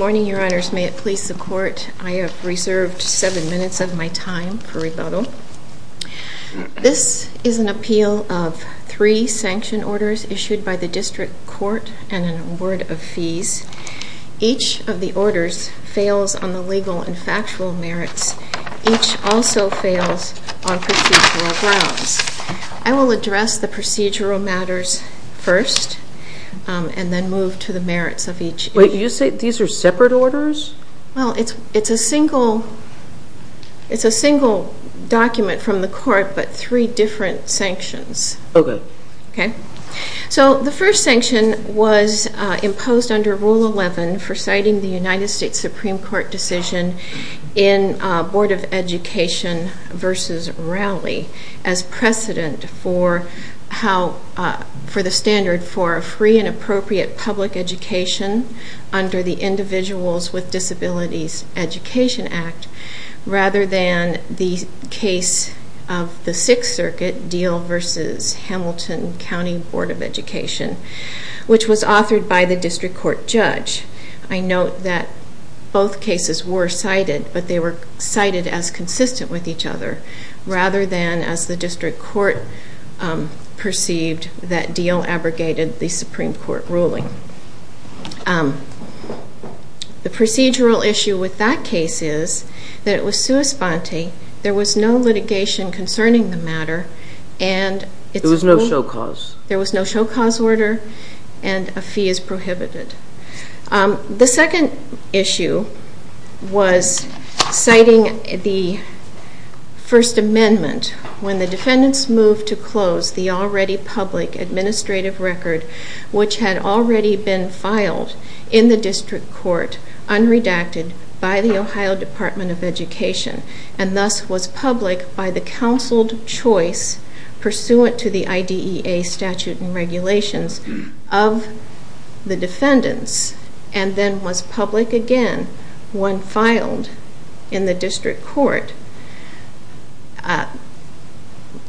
This is an appeal of three sanction orders issued by the District Court and an award of fees. Each of the orders fails on the legal and factual merits. Each also fails on procedural grounds. I will address the procedural matters first and then move to the merits of each. Wait, you say these are separate orders? Well, it's a single document from the court but three different sanctions. Okay. So the first sanction was imposed under Rule 11 for citing the United States Supreme Court decision in Board of Education v. Rowley as precedent for the standard for a free and appropriate public education under the Individuals with Disabilities Education Act rather than the case of the Sixth Circuit deal v. Hamilton. This was authored by the District Court judge. I note that both cases were cited but they were cited as consistent with each other rather than as the District Court perceived that deal abrogated the Supreme Court ruling. The procedural issue with that case is that it was sui sponte. There was no litigation concerning the matter and there was no show cause order and a fee is prohibited. The second issue was citing the First Amendment when the defendants moved to close the already public administrative record which had already been filed in the District Court unredacted by the Ohio Department of Education and thus was public by the counseled choice pursuant to the IDEA statute and regulations of the defendants. And then was public again when filed in the District Court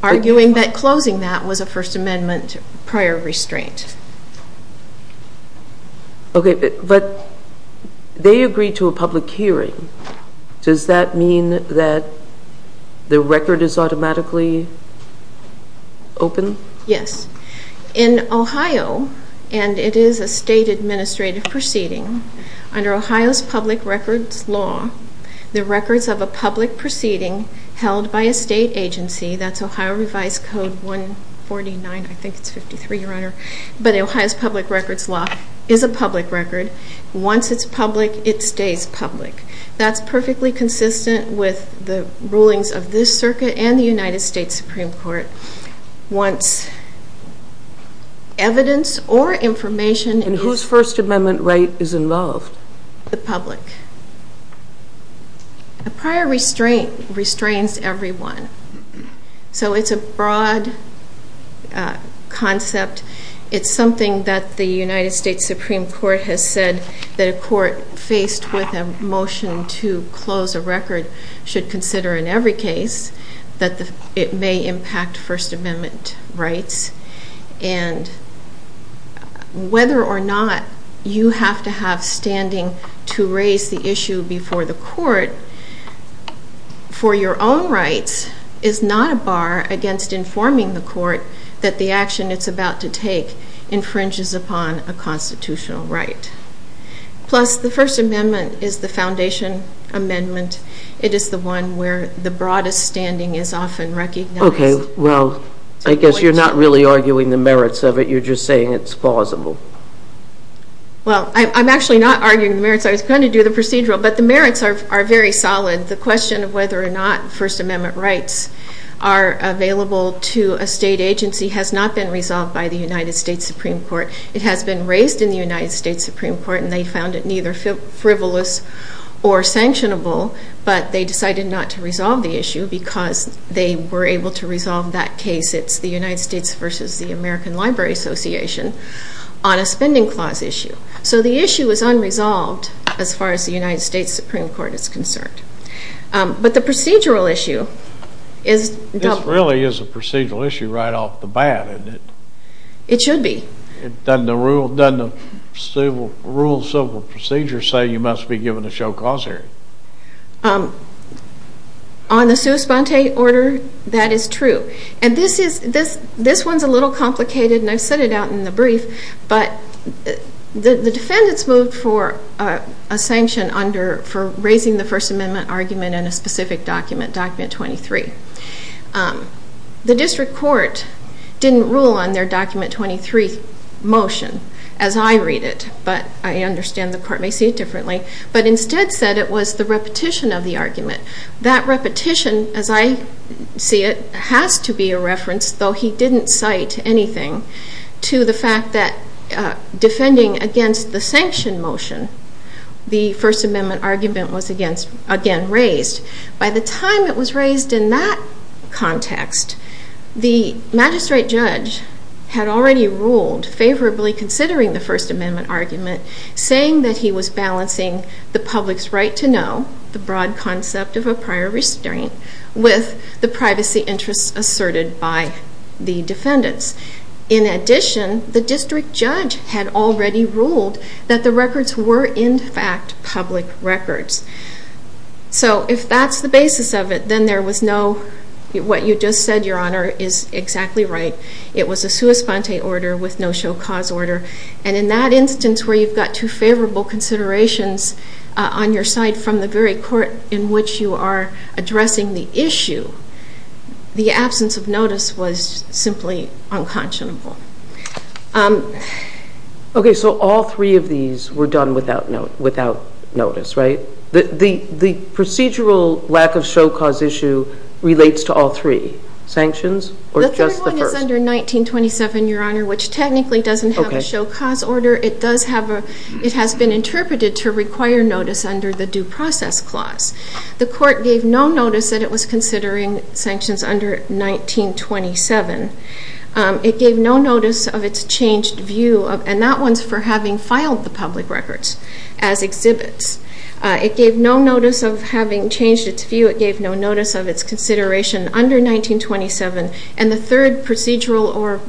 arguing that closing that was a First Amendment prior restraint. Okay, but they agreed to a public hearing. Does that mean that the record is automatically open? Yes. In Ohio, and it is a state administrative proceeding, under Ohio's public records law, the records of a public proceeding held by a state agency, that's Ohio Revised Code 149, I think it's 53, Your Honor, but Ohio's public records law is a public record. Once it's public, it stays public. That's perfectly consistent with the rulings of this circuit and the United States Supreme Court. Once evidence or information is... And whose First Amendment right is involved? The public. A prior restraint restrains everyone. So it's a broad concept. It's something that the United States Supreme Court has said that a court faced with a motion to close a record should consider in every case that it may impact First Amendment rights. And whether or not you have to have standing to raise the issue before the court for your own rights is not a bar against informing the court that the action it's about to take infringes upon a constitutional right. Plus, the First Amendment is the foundation amendment. It is the one where the broadest standing is often recognized. Okay. Well, I guess you're not really arguing the merits of it. You're just saying it's plausible. Well, I'm actually not arguing the merits. I was going to do the procedural, but the merits are very solid. The question of whether or not First Amendment rights are available to a state agency has not been resolved by the United States Supreme Court. It has been raised in the United States Supreme Court and they found it neither frivolous or sanctionable, but they decided not to resolve the issue because they were able to resolve that case. It's the United States versus the American Library Association on a spending clause issue. So the issue is unresolved as far as the United States Supreme Court is concerned. But the procedural issue is... This really is a procedural issue right off the bat, isn't it? It should be. Doesn't the rule of civil procedure say you must be given a show cause hearing? On the sua sponte order, that is true. And this one's a little complicated and I've said it out in the brief, but the defendants moved for a sanction for raising the First Amendment argument in a specific document, document 23. The district court didn't rule on their document 23 motion as I read it, but I understand the court may see it differently, but instead said it was the repetition of the argument. That repetition, as I see it, has to be a reference, though he didn't cite anything, to the fact that defending against the sanction motion the First Amendment argument was again raised. By the time it was raised in that context, the magistrate judge had already ruled favorably considering the First Amendment argument, saying that he was balancing the public's right to know, the broad concept of a prior restraint, with the privacy interests asserted by the defendants. In addition, the district judge had already ruled that the records were in fact public records. So if that's the basis of it, then there was no, what you just said, Your Honor, is exactly right. It was a sua sponte order with no show cause order. And in that instance where you've got two favorable considerations on your side from the very court in which you are addressing the issue, the absence of notice was simply unconscionable. Okay, so all three of these were done without notice, right? The procedural lack of show cause issue relates to all three. Sanctions or just the first? The third one is under 1927, Your Honor, which technically doesn't have a show cause order. It does have a, it has been interpreted to require notice under the due process clause. The court gave no notice that it was considering sanctions under 1927. It gave no notice of its changed view, and that one's for having filed the public records as exhibits. It gave no notice of having changed its view. It gave no notice of its consideration under 1927. And the third procedural or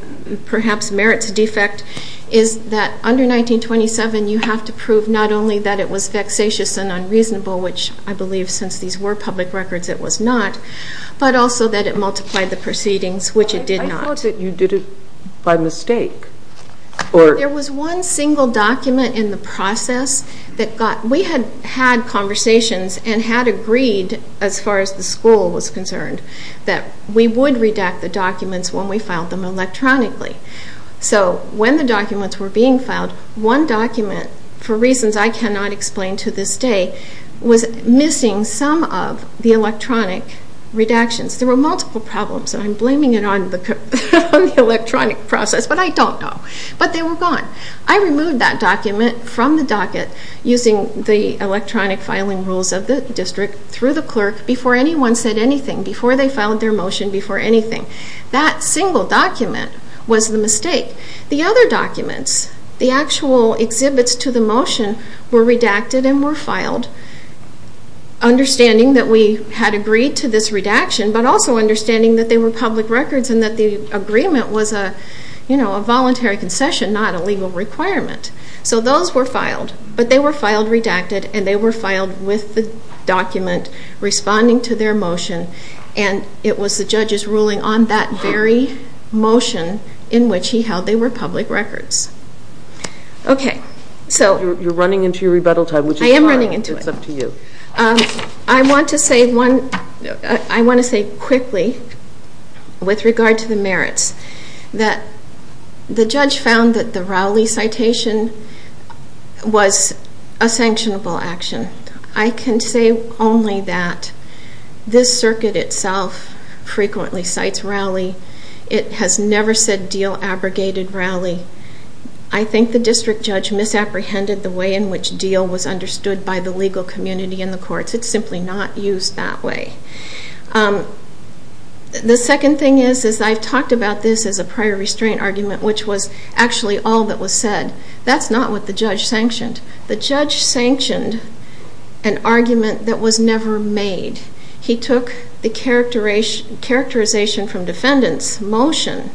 perhaps merits defect is that under 1927 you have to prove not only that it was vexatious and unreasonable, which I believe since these were public records it was not, but also that it multiplied the proceedings, which it did not. I thought that you did it by mistake. There was one single document in the process that got, we had had conversations and had agreed as far as the school was concerned, that we would redact the documents when we filed them electronically. So when the documents were being filed, one document, for reasons I cannot explain to this day, was missing some of the electronic redactions. There were multiple problems, and I'm blaming it on the electronic process, but I don't know. But they were gone. I removed that document from the docket using the electronic filing rules of the district through the clerk before anyone said anything, before they filed their motion, before anything. That single document was the mistake. The other documents, the actual exhibits to the motion, were redacted and were filed, understanding that we had agreed to this redaction, but also understanding that they were public records and that the agreement was a voluntary concession, not a legal requirement. So those were filed, but they were filed redacted, and they were filed with the document responding to their motion. And it was the judge's ruling on that very motion in which he held they were public records. Okay, so... You're running into your rebuttal time, which is fine. I am running into it. It's up to you. I want to say quickly, with regard to the merits, that the judge found that the Rowley citation was a sanctionable action. I can say only that this circuit itself frequently cites Rowley. It has never said deal abrogated Rowley. I think the district judge misapprehended the way in which deal was understood by the legal community in the courts. It's simply not used that way. The second thing is, is I've talked about this as a prior restraint argument, which was actually all that was said. That's not what the judge sanctioned. The judge sanctioned an argument that was never made. He took the characterization from defendants' motion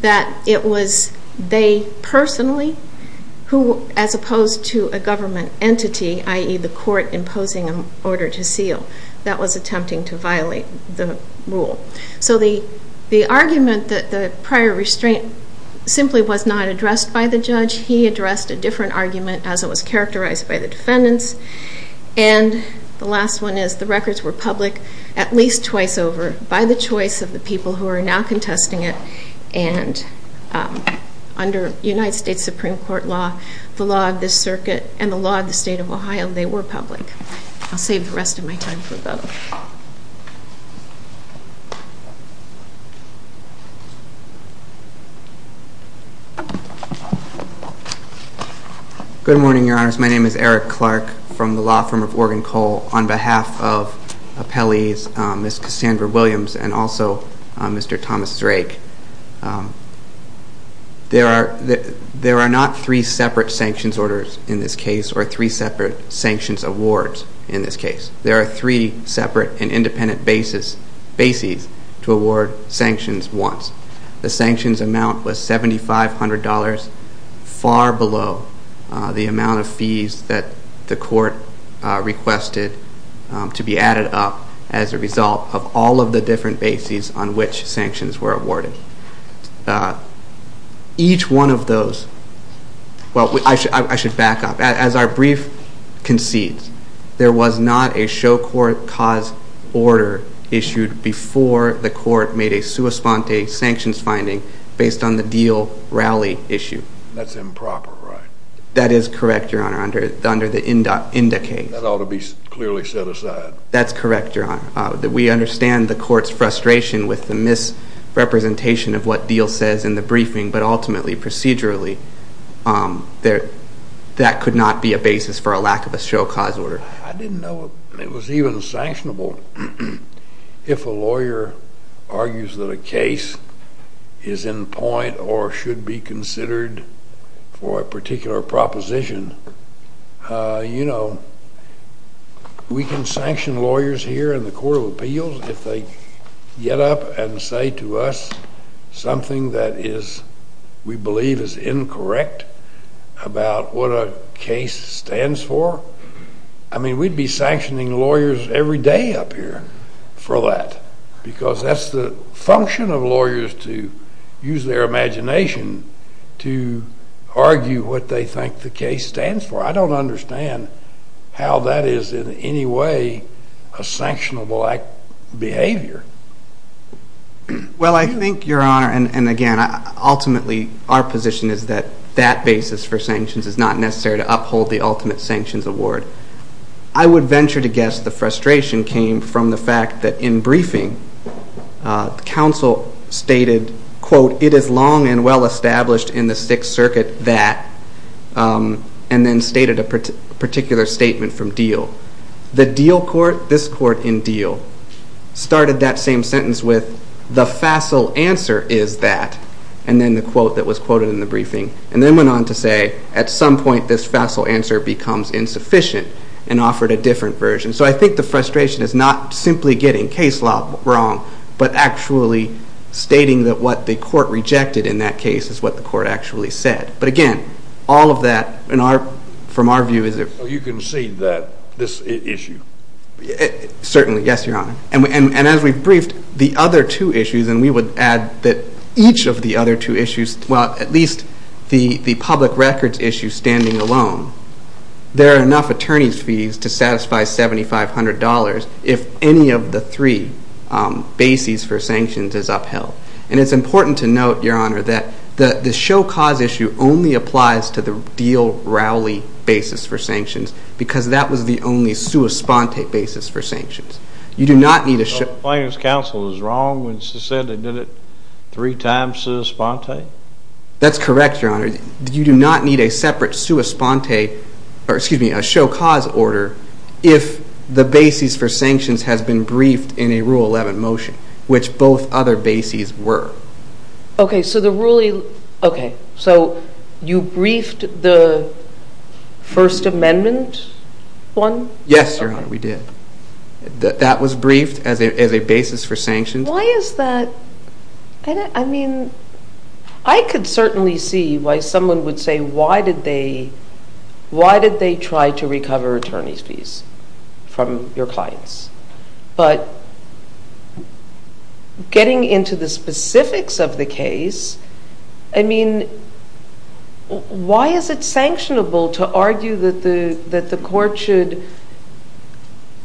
that it was they personally who, as opposed to a government entity, i.e., the court imposing an order to seal, that was attempting to violate the rule. So the argument that the prior restraint simply was not addressed by the judge. He addressed a different argument as it was characterized by the defendants. And the last one is the records were public at least twice over by the choice of the people who are now contesting it. And under United States Supreme Court law, the law of this circuit, and the law of the state of Ohio, they were public. I'll save the rest of my time for that. Good morning, Your Honors. My name is Eric Clark from the law firm of Oregon Coal. On behalf of appellees Ms. Cassandra Williams and also Mr. Thomas Drake, there are not three separate sanctions orders in this case or three separate sanctions awards in this case. There are three separate and independent bases to award sanctions once. The sanctions amount was $7,500, far below the amount of fees that the court requested to be added up as a result of all of the different bases on which sanctions were awarded. Each one of those, well I should back up, as our brief concedes, there was not a show court cause order issued before the court made a sua sponte sanctions finding based on the deal rally issue. That's improper, right? That is correct, Your Honor, under the INDA case. That ought to be clearly set aside. That's correct, Your Honor. We understand the court's frustration with the misrepresentation of what deal says in the briefing, but ultimately, procedurally, that could not be a basis for a lack of a show cause order. I didn't know it was even sanctionable. If a lawyer argues that a case is in point or should be considered for a particular proposition, you know, we can sanction lawyers here in the Court of Appeals if they get up and say to us something that we believe is incorrect about what a case stands for. I mean, we'd be sanctioning lawyers every day up here for that because that's the function of lawyers to use their imagination to argue what they think the case stands for. I don't understand how that is in any way a sanctionable behavior. Well, I think, Your Honor, and again, ultimately our position is that that basis for sanctions is not necessary to uphold the ultimate sanctions award. I would venture to guess the frustration came from the fact that in briefing, counsel stated, quote, it is long and well established in the Sixth Circuit that, and then stated a particular statement from deal. The deal court, this court in deal, started that same sentence with the facile answer is that, and then the quote that was quoted in the briefing, and then went on to say at some point this facile answer becomes insufficient, and offered a different version. So I think the frustration is not simply getting case law wrong, but actually stating that what the court rejected in that case is what the court actually said. But again, all of that, from our view, is a So you concede that this issue? Certainly, yes, Your Honor. And as we briefed, the other two issues, and we would add that each of the other two issues, well, at least the public records issue standing alone, there are enough attorney's fees to satisfy $7,500 if any of the three bases for sanctions is upheld. And it's important to note, Your Honor, that the show cause issue only applies to the deal rally basis for sanctions because that was the only sua sponte basis for sanctions. So the plaintiff's counsel is wrong when she said they did it three times sua sponte? That's correct, Your Honor. You do not need a separate sua sponte, or excuse me, a show cause order, if the basis for sanctions has been briefed in a Rule 11 motion, which both other bases were. Okay, so you briefed the First Amendment one? Yes, Your Honor, we did. That was briefed as a basis for sanctions. Why is that? I mean, I could certainly see why someone would say, why did they try to recover attorney's fees from your clients? But getting into the specifics of the case, I mean, why is it sanctionable to argue that the court should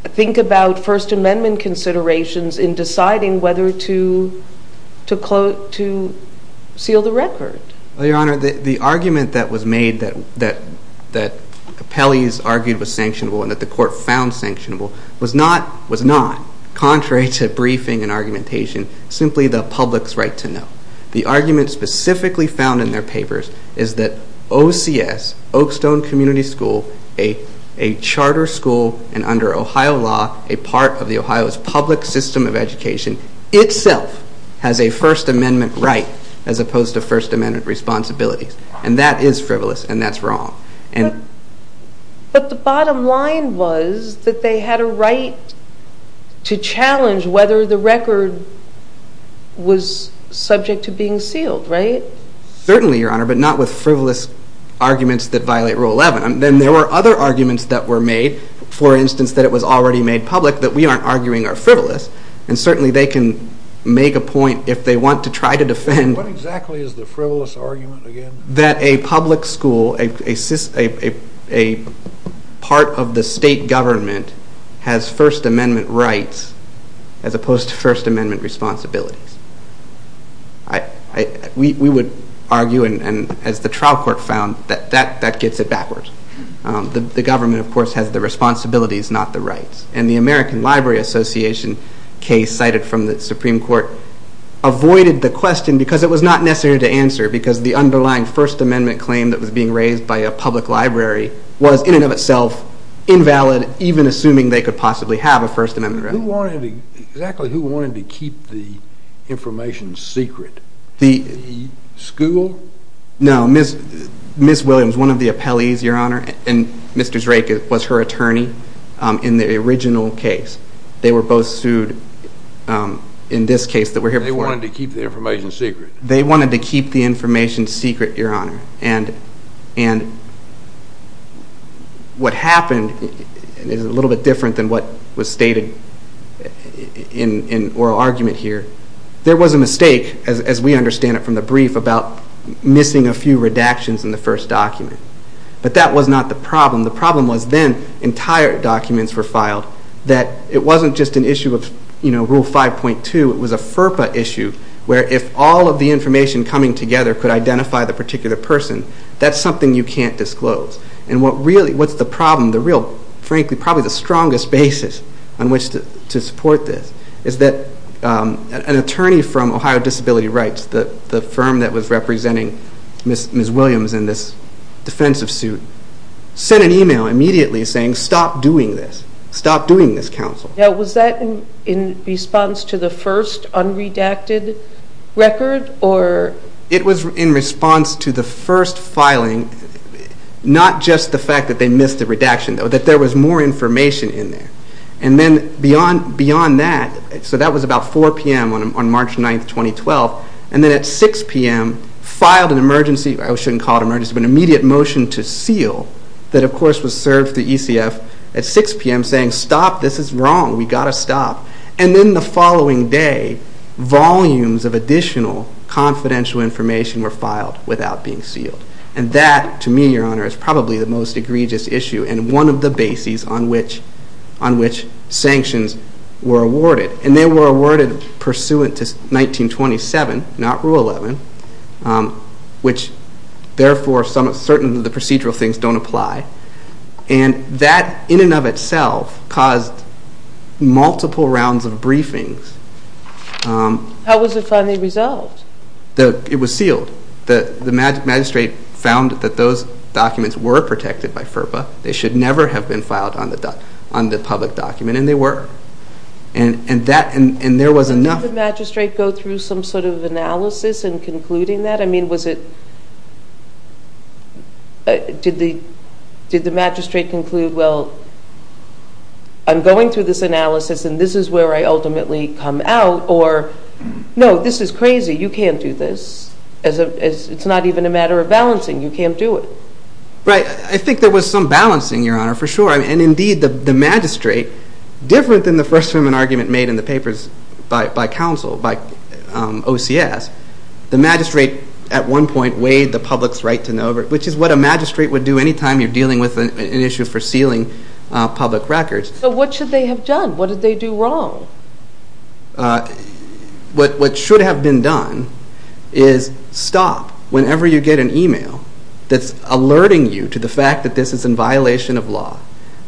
think about First Amendment considerations in deciding whether to seal the record? Well, Your Honor, the argument that was made that Capelli's argued was sanctionable and that the court found sanctionable was not, contrary to briefing and argumentation, simply the public's right to know. The argument specifically found in their papers is that OCS, Oakstone Community School, a charter school, and under Ohio law, a part of the Ohio's public system of education, itself has a First Amendment right as opposed to First Amendment responsibilities. And that is frivolous, and that's wrong. But the bottom line was that they had a right to challenge whether the record was subject to being sealed, right? Certainly, Your Honor, but not with frivolous arguments that violate Rule 11. There were other arguments that were made, for instance, that it was already made public, that we aren't arguing are frivolous, and certainly they can make a point if they want to try to defend What exactly is the frivolous argument again? That a public school, a part of the state government, has First Amendment rights as opposed to First Amendment responsibilities. We would argue, and as the trial court found, that that gets it backwards. The government, of course, has the responsibilities, not the rights. And the American Library Association case cited from the Supreme Court avoided the question because it was not necessary to answer because the underlying First Amendment claim that was being raised by a public library was in and of itself invalid, even assuming they could possibly have a First Amendment right. Who wanted to keep the information secret? The school? No, Ms. Williams, one of the appellees, Your Honor, and Mr. Drake was her attorney in the original case. They were both sued in this case that we're here for. They wanted to keep the information secret. They wanted to keep the information secret, Your Honor. And what happened is a little bit different than what was stated in oral argument here. There was a mistake, as we understand it from the brief, about missing a few redactions in the first document. But that was not the problem. The problem was then entire documents were filed, that it wasn't just an issue of Rule 5.2. It was a FERPA issue where if all of the information coming together could identify the particular person, that's something you can't disclose. And what's the problem, frankly, probably the strongest basis on which to support this is that an attorney from Ohio Disability Rights, the firm that was representing Ms. Williams in this defensive suit, sent an email immediately saying, Stop doing this. Stop doing this, counsel. Now, was that in response to the first unredacted record, or? It was in response to the first filing, not just the fact that they missed a redaction, that there was more information in there. And then beyond that, so that was about 4 p.m. on March 9, 2012, and then at 6 p.m. filed an emergency, I shouldn't call it emergency, but an immediate motion to seal that, of course, was served to the ECF at 6 p.m. saying, Stop, this is wrong, we've got to stop. And then the following day, volumes of additional confidential information were filed without being sealed. And that, to me, Your Honor, is probably the most egregious issue and one of the bases on which sanctions were awarded. And they were awarded pursuant to 1927, not Rule 11, which, therefore, certain of the procedural things don't apply. And that, in and of itself, caused multiple rounds of briefings. How was it finally resolved? It was sealed. The magistrate found that those documents were protected by FERPA. They should never have been filed on the public document, and they were. And there was enough. Did the magistrate go through some sort of analysis in concluding that? I mean, did the magistrate conclude, Well, I'm going through this analysis, and this is where I ultimately come out? Or, No, this is crazy. You can't do this. It's not even a matter of balancing. You can't do it. Right. I think there was some balancing, Your Honor, for sure. And, indeed, the magistrate, different than the first argument made in the papers by counsel, by OCS, the magistrate, at one point, weighed the public's right to know, which is what a magistrate would do any time you're dealing with an issue for sealing public records. So what should they have done? What did they do wrong? What should have been done is stop whenever you get an email that's alerting you to the fact that this is in violation of law.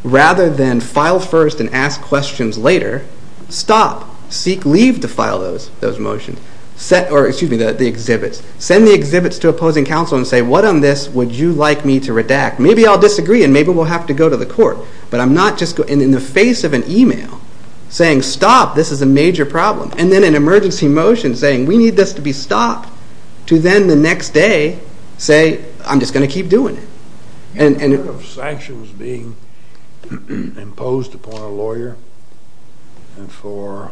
Rather than file first and ask questions later, stop, seek leave to file those motions, or, excuse me, the exhibits. Send the exhibits to opposing counsel and say, What on this would you like me to redact? Maybe I'll disagree, and maybe we'll have to go to the court. But I'm not just going to, in the face of an email, saying, Stop, this is a major problem. And then an emergency motion saying, We need this to be stopped, to then, the next day, say, I'm just going to keep doing it. Sanctions being imposed upon a lawyer for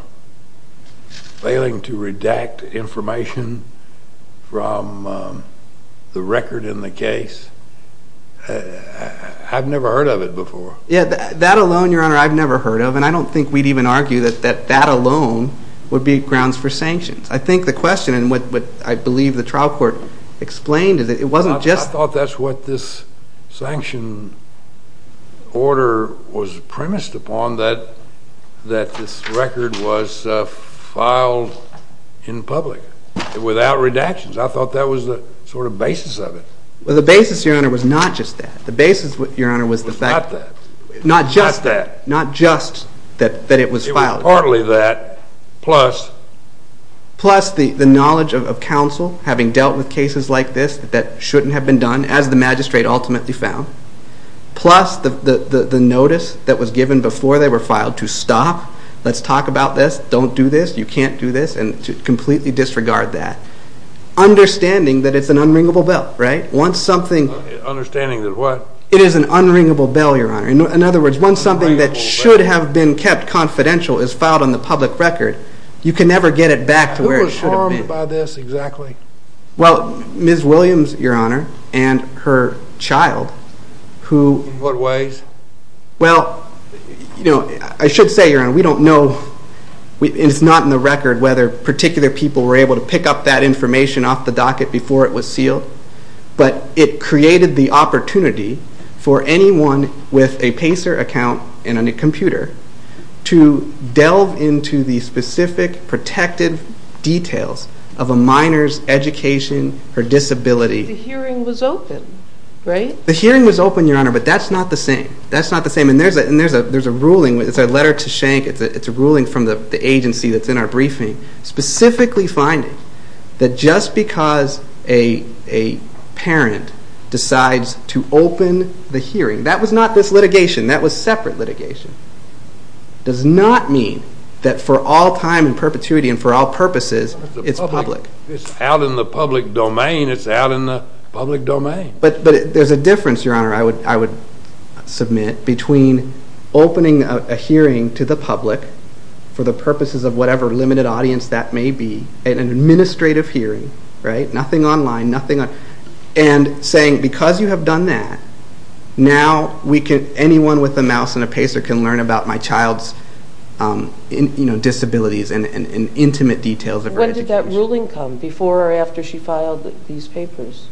failing to redact information from the record in the case, I've never heard of it before. Yeah, that alone, Your Honor, I've never heard of. And I don't think we'd even argue that that alone would be grounds for sanctions. I think the question, and what I believe the trial court explained, is that it wasn't just... I thought that's what this sanction order was premised upon, that this record was filed in public, without redactions. I thought that was the sort of basis of it. Well, the basis, Your Honor, was not just that. The basis, Your Honor, was the fact... Was not that. Not just that. Not just that it was filed. It was partly that, plus... Plus the knowledge of counsel, having dealt with cases like this that shouldn't have been done, as the magistrate ultimately found. Plus the notice that was given before they were filed to stop, let's talk about this, don't do this, you can't do this, and to completely disregard that. Understanding that it's an unringable bell, right? Understanding that what? It is an unringable bell, Your Honor. In other words, once something that should have been kept confidential you can never get it back to where it should have been. What do you mean by this, exactly? Well, Ms. Williams, Your Honor, and her child, who... In what ways? Well, I should say, Your Honor, we don't know, and it's not in the record, whether particular people were able to pick up that information off the docket before it was sealed, but it created the opportunity for anyone with a PACER account and a computer to delve into the specific protective details of a minor's education or disability. The hearing was open, right? The hearing was open, Your Honor, but that's not the same. That's not the same, and there's a ruling, it's a letter to Schenck, it's a ruling from the agency that's in our briefing, specifically finding that just because a parent decides to open the hearing, that was not this litigation, that was separate litigation. It does not mean that for all time and perpetuity and for all purposes, it's public. It's out in the public domain, it's out in the public domain. But there's a difference, Your Honor, I would submit, between opening a hearing to the public for the purposes of whatever limited audience that may be, an administrative hearing, right? Nothing online, nothing on... And saying, because you have done that, now anyone with a mouse and a pacer can learn about my child's disabilities and intimate details of her education. When did that ruling come, before or after she filed these papers?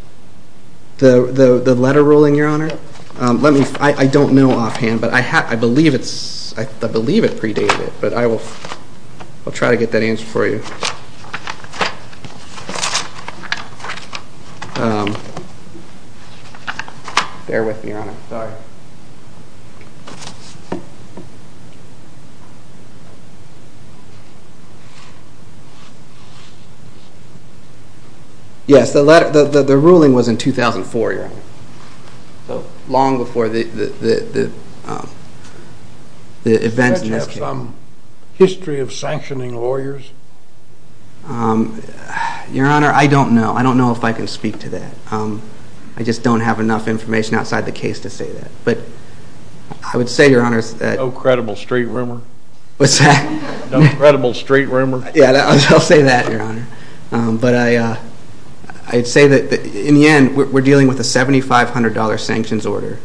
The letter ruling, Your Honor? I don't know offhand, but I believe it predated it, but I will try to get that answer for you. Bear with me, Your Honor. Sorry. Yes, the ruling was in 2004, Your Honor. Long before the events in this case. Did you have some history of sanctioning lawyers? Your Honor, I don't know. I don't know if I can speak to that. I just don't have enough information outside the case to say that. But I would say, Your Honor... No credible street rumor? What's that? No credible street rumor? Yeah, I'll say that, Your Honor. But I'd say that, in the end, we're dealing with a $7,500 sanctions order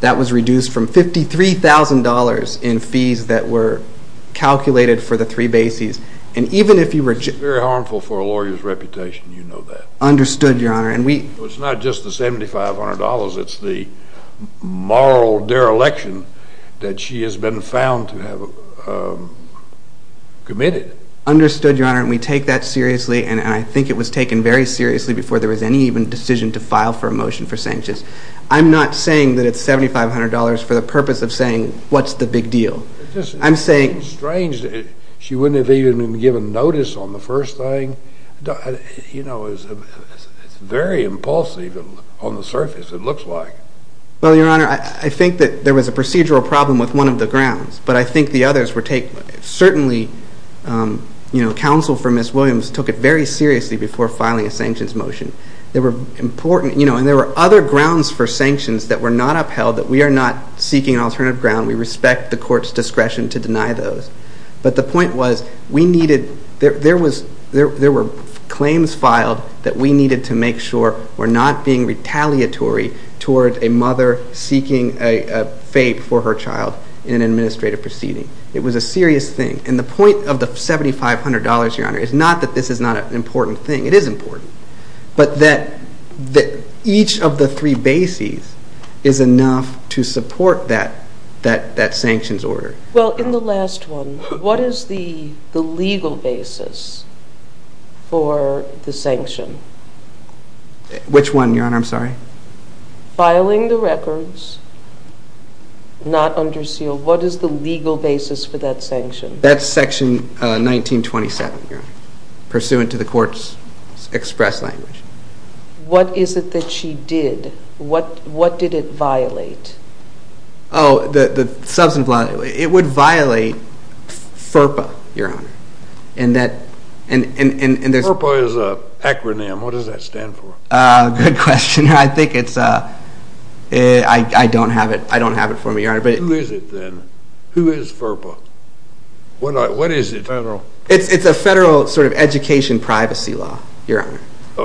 that was reduced from $53,000 in fees that were calculated for the three bases. It's very harmful for a lawyer's reputation, you know that. Understood, Your Honor. It's not just the $7,500, it's the moral dereliction that she has been found to have committed. Understood, Your Honor, and we take that seriously, and I think it was taken very seriously before there was any even decision to file for a motion for sanctions. I'm not saying that it's $7,500 for the purpose of saying, what's the big deal? It's strange that she wouldn't have even been given notice on the first thing. It's very impulsive on the surface, it looks like. Well, Your Honor, I think that there was a procedural problem with one of the grounds, but I think the others were taken... Certainly, counsel for Ms. Williams took it very seriously before filing a sanctions motion. There were other grounds for sanctions that were not upheld, that we are not seeking an alternative ground. We respect the court's discretion to deny those. But the point was, there were claims filed that we needed to make sure were not being retaliatory toward a mother seeking a fate for her child in an administrative proceeding. It was a serious thing. And the point of the $7,500, Your Honor, is not that this is not an important thing. It is important. But that each of the three bases is enough to support that sanctions order. Well, in the last one, what is the legal basis for the sanction? Which one, Your Honor? I'm sorry. Filing the records, not under seal. What is the legal basis for that sanction? That's Section 1927, Your Honor, pursuant to the court's express language. What is it that she did? What did it violate? Oh, the substance violation. It would violate FERPA, Your Honor. FERPA is an acronym. What does that stand for? Good question. I think it's a... I don't have it for me, Your Honor. Who is it then? Who is FERPA? What is it? It's a federal sort of education privacy law, Your Honor.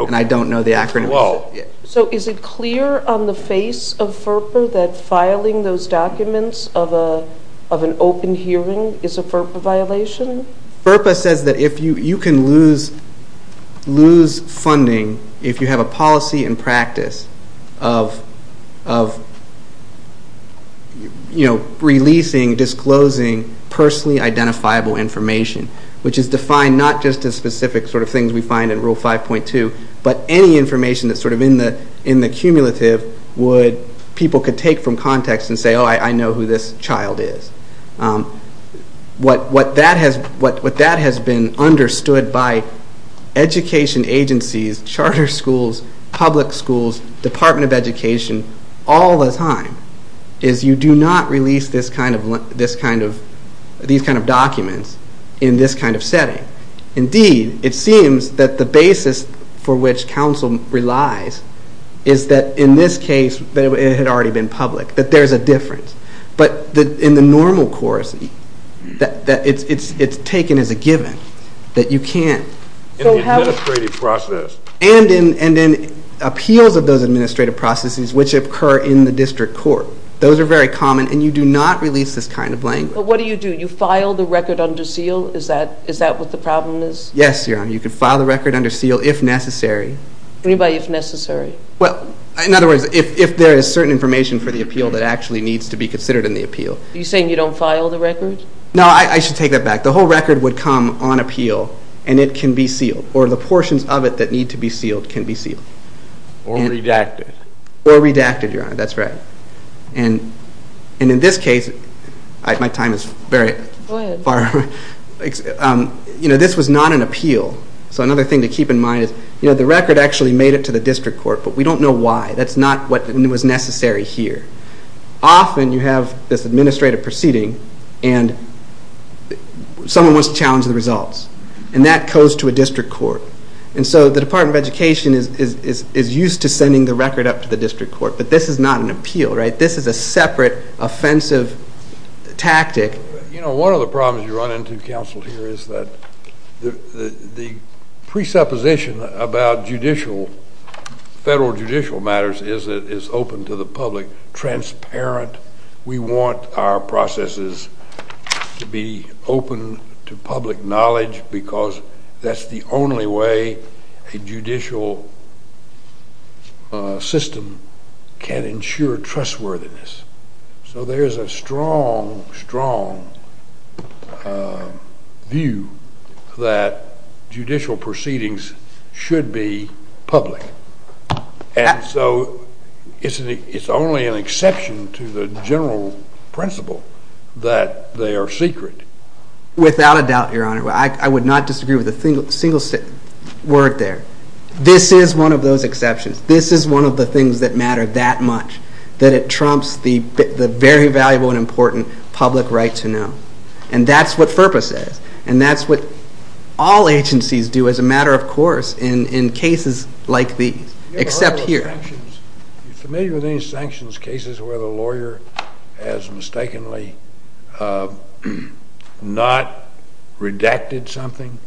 And I don't know the acronym. So is it clear on the face of FERPA that filing those documents of an open hearing is a FERPA violation? FERPA says that you can lose funding if you have a policy and practice of releasing, disclosing personally identifiable information, which is defined not just as specific sort of things we find in Rule 5.2, but any information that's sort of in the cumulative people could take from context and say, oh, I know who this child is. What that has been understood by education agencies, charter schools, public schools, Department of Education, all the time is you do not release these kind of documents in this kind of setting. Indeed, it seems that the basis for which counsel relies is that in this case it had already been public, that there's a difference. But in the normal course, it's taken as a given that you can't. In the administrative process. And in appeals of those administrative processes which occur in the district court. Those are very common, and you do not release this kind of language. But what do you do? You file the record under seal? Is that what the problem is? Yes, Your Honor. You can file the record under seal if necessary. What do you mean by if necessary? Well, in other words, if there is certain information for the appeal that actually needs to be considered in the appeal. Are you saying you don't file the record? No, I should take that back. The whole record would come on appeal, and it can be sealed. Or the portions of it that need to be sealed can be sealed. Or redacted. Or redacted, Your Honor. That's right. And in this case, my time is very far. Go ahead. This was not an appeal. So another thing to keep in mind is the record actually made it to the district court, but we don't know why. That's not what was necessary here. Often you have this administrative proceeding, and someone wants to challenge the results. And that goes to a district court. And so the Department of Education is used to sending the record up to the district court. But this is not an appeal, right? This is a separate offensive tactic. You know, one of the problems you run into, Counsel, here, is that the presupposition about judicial, federal judicial matters, is that it's open to the public, transparent. We want our processes to be open to public knowledge because that's the only way a judicial system can ensure trustworthiness. So there's a strong, strong view that judicial proceedings should be public. And so it's only an exception to the general principle that they are secret. Without a doubt, Your Honor, I would not disagree with a single word there. This is one of those exceptions. This is one of the things that matter that much, that it trumps the very valuable and important public right to know. And that's what FERPA says. And that's what all agencies do as a matter of course in cases like these, except here. Are you familiar with any sanctions cases where the lawyer has mistakenly not redacted something?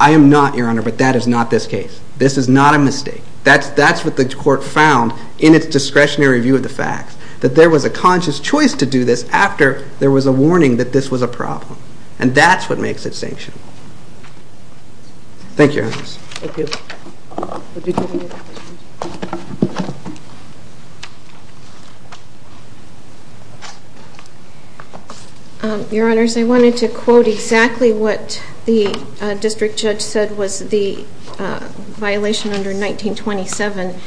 I am not, Your Honor, but that is not this case. This is not a mistake. That's what the court found in its discretionary review of the facts, that there was a conscious choice to do this after there was a warning that this was a problem. And that's what makes it sanctionable. Thank you, Your Honors. Thank you. Your Honors, I wanted to quote exactly what the district judge said was the violation under 1927.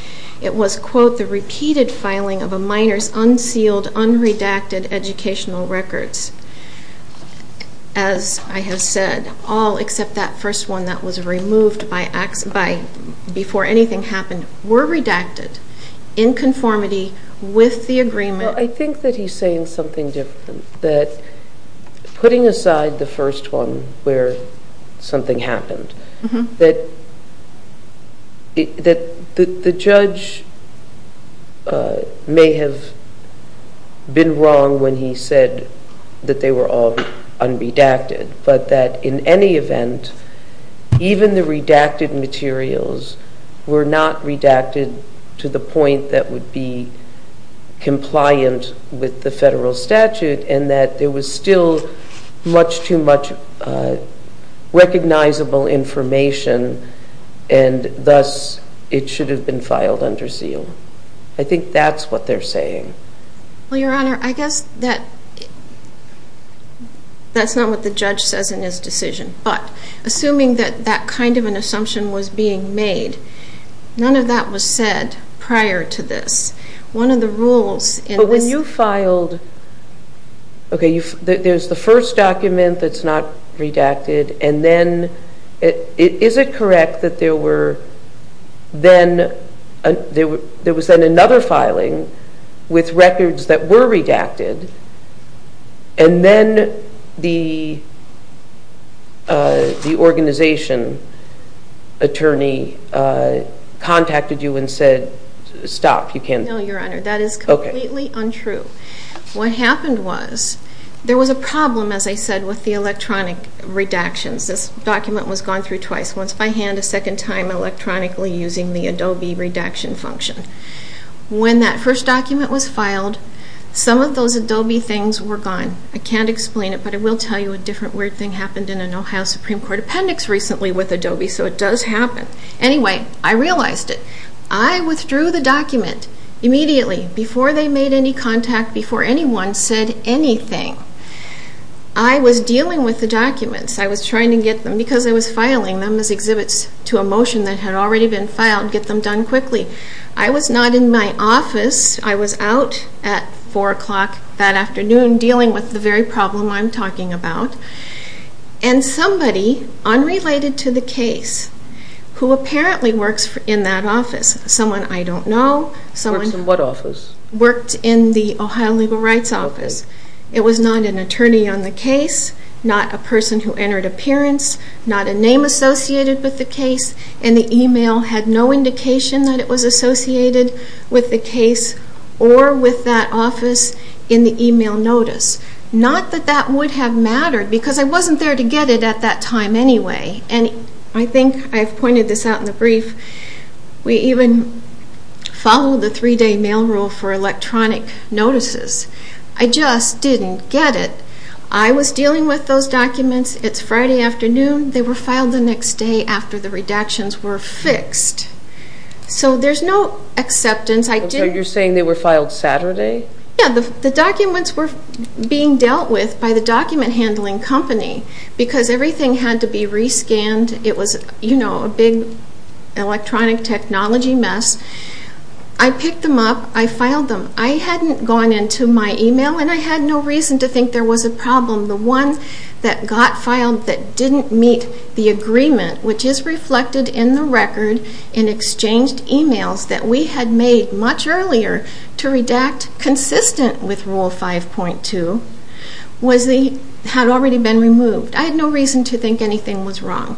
It was, quote, the repeated filing of a minor's unsealed, unredacted educational records. As I have said, all except that first one that was removed before anything happened, were redacted in conformity with the agreement. Well, I think that he's saying something different, that putting aside the first one where something happened, that the judge may have been wrong when he said that they were all unredacted, but that in any event, even the redacted materials were not redacted to the point that would be compliant with the federal statute, and that there was still much too much recognizable information, and thus it should have been filed under seal. I think that's what they're saying. Well, Your Honor, I guess that's not what the judge says in his decision. But assuming that that kind of an assumption was being made, none of that was said prior to this. But when you filed, okay, there's the first document that's not redacted, and then is it correct that there was then another filing with records that were redacted, and then the organization attorney contacted you and said, stop, you can't... No, Your Honor, that is completely untrue. What happened was, there was a problem, as I said, with the electronic redactions. This document was gone through twice, once by hand, a second time electronically using the Adobe redaction function. When that first document was filed, some of those Adobe things were gone. I can't explain it, but I will tell you a different weird thing happened in an Ohio Supreme Court appendix recently with Adobe, so it does happen. Anyway, I realized it. I withdrew the document immediately, before they made any contact, before anyone said anything. I was dealing with the documents. I was trying to get them, because I was filing them as exhibits to a motion that had already been filed, get them done quickly. I was not in my office. I was out at 4 o'clock that afternoon dealing with the very problem I'm talking about, and somebody, unrelated to the case, who apparently works in that office, someone I don't know... Works in what office? Worked in the Ohio Legal Rights Office. It was not an attorney on the case, not a person who entered appearance, not a name associated with the case, and the email had no indication that it was associated with the case or with that office in the email notice. Not that that would have mattered, because I wasn't there to get it at that time anyway. I think I've pointed this out in the brief. We even followed the three-day mail rule for electronic notices. I just didn't get it. I was dealing with those documents. It's Friday afternoon. They were filed the next day after the redactions were fixed. So there's no acceptance. You're saying they were filed Saturday? Yeah. The documents were being dealt with by the document handling company because everything had to be re-scanned. It was a big electronic technology mess. I picked them up. I filed them. I hadn't gone into my email, and I had no reason to think there was a problem. The one that got filed that didn't meet the agreement, which is reflected in the record in exchanged emails that we had made much earlier to redact consistent with Rule 5.2, had already been removed. I had no reason to think anything was wrong.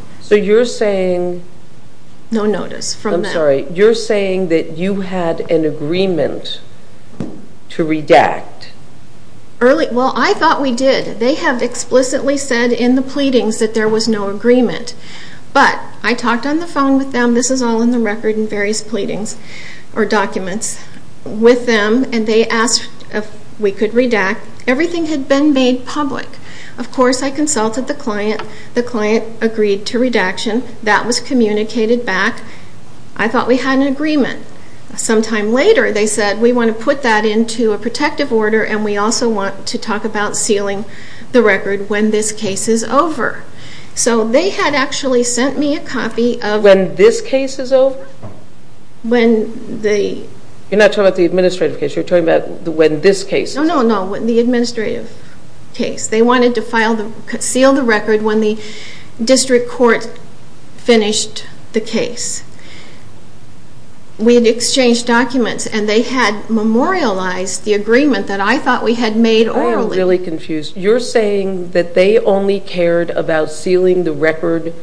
Well, I thought we did. They have explicitly said in the pleadings that there was no agreement. But I talked on the phone with them. This is all in the record in various pleadings or documents. With them, and they asked if we could redact. Everything had been made public. Of course, I consulted the client. The client agreed to redaction. That was communicated back. I thought we had an agreement. Sometime later, they said, we want to put that into a protective order, and we also want to talk about sealing the record when this case is over. So they had actually sent me a copy of... When this case is over? When the... You're not talking about the administrative case. You're talking about when this case is over. No, no, no, the administrative case. They wanted to seal the record when the district court finished the case. We had exchanged documents, and they had memorialized the agreement that I thought we had made orally. I am really confused. You're saying that they only cared about sealing the record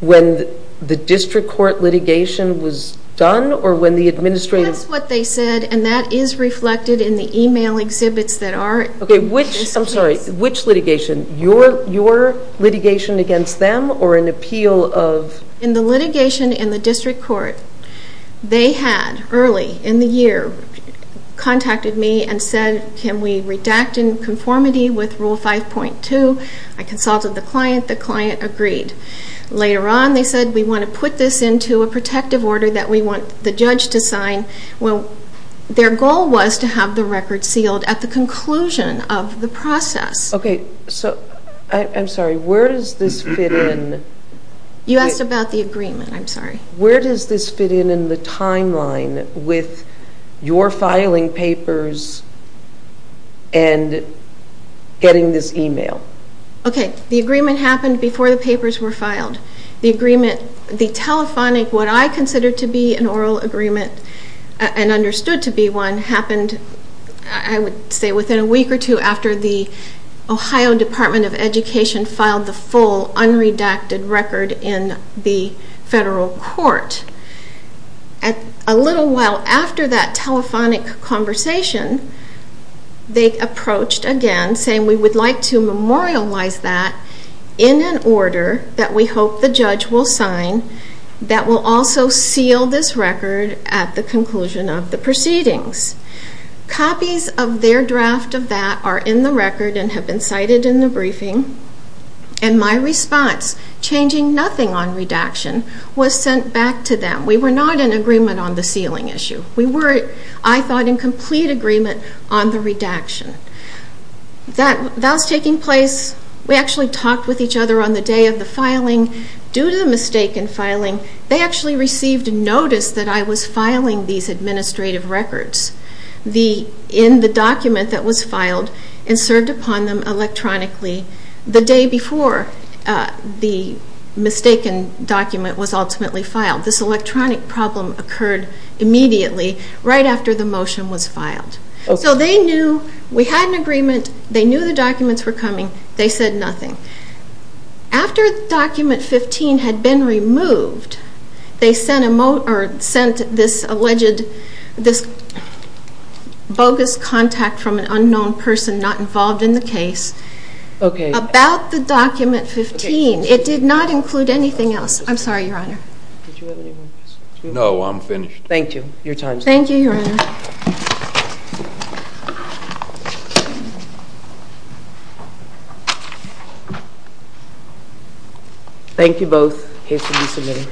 when the district court litigation was done or when the administrative... That's what they said, and that is reflected in the email exhibits that are... Okay, which litigation? Your litigation against them or an appeal of... In the litigation in the district court, they had early in the year contacted me and said, can we redact in conformity with Rule 5.2? I consulted the client. The client agreed. Later on, they said, we want to put this into a protective order that we want the judge to sign. Well, their goal was to have the record sealed at the conclusion of the process. Okay, so I'm sorry. Where does this fit in? You asked about the agreement. I'm sorry. Where does this fit in in the timeline with your filing papers and getting this email? Okay, the agreement happened before the papers were filed. The agreement, the telephonic, what I consider to be an oral agreement and understood to be one, happened, I would say, within a week or two after the Ohio Department of Education filed the full unredacted record in the federal court. A little while after that telephonic conversation, they approached again saying, we would like to memorialize that in an order that we hope the judge will sign that will also seal this record at the conclusion of the proceedings. Copies of their draft of that are in the record and have been cited in the briefing. And my response, changing nothing on redaction, was sent back to them. We were not in agreement on the sealing issue. We were, I thought, in complete agreement on the redaction. That was taking place. We actually talked with each other on the day of the filing. Due to the mistake in filing, they actually received notice that I was filing these administrative records in the document that was filed and served upon them electronically the day before the mistaken document was ultimately filed. This electronic problem occurred immediately right after the motion was filed. So they knew we had an agreement. They knew the documents were coming. They said nothing. After document 15 had been removed, they sent this alleged bogus contact from an unknown person not involved in the case. Okay. About the document 15. It did not include anything else. I'm sorry, Your Honor. Did you have any more questions? No, I'm finished. Thank you. Your time is up. Thank you, Your Honor. Thank you both. Case can be submitted.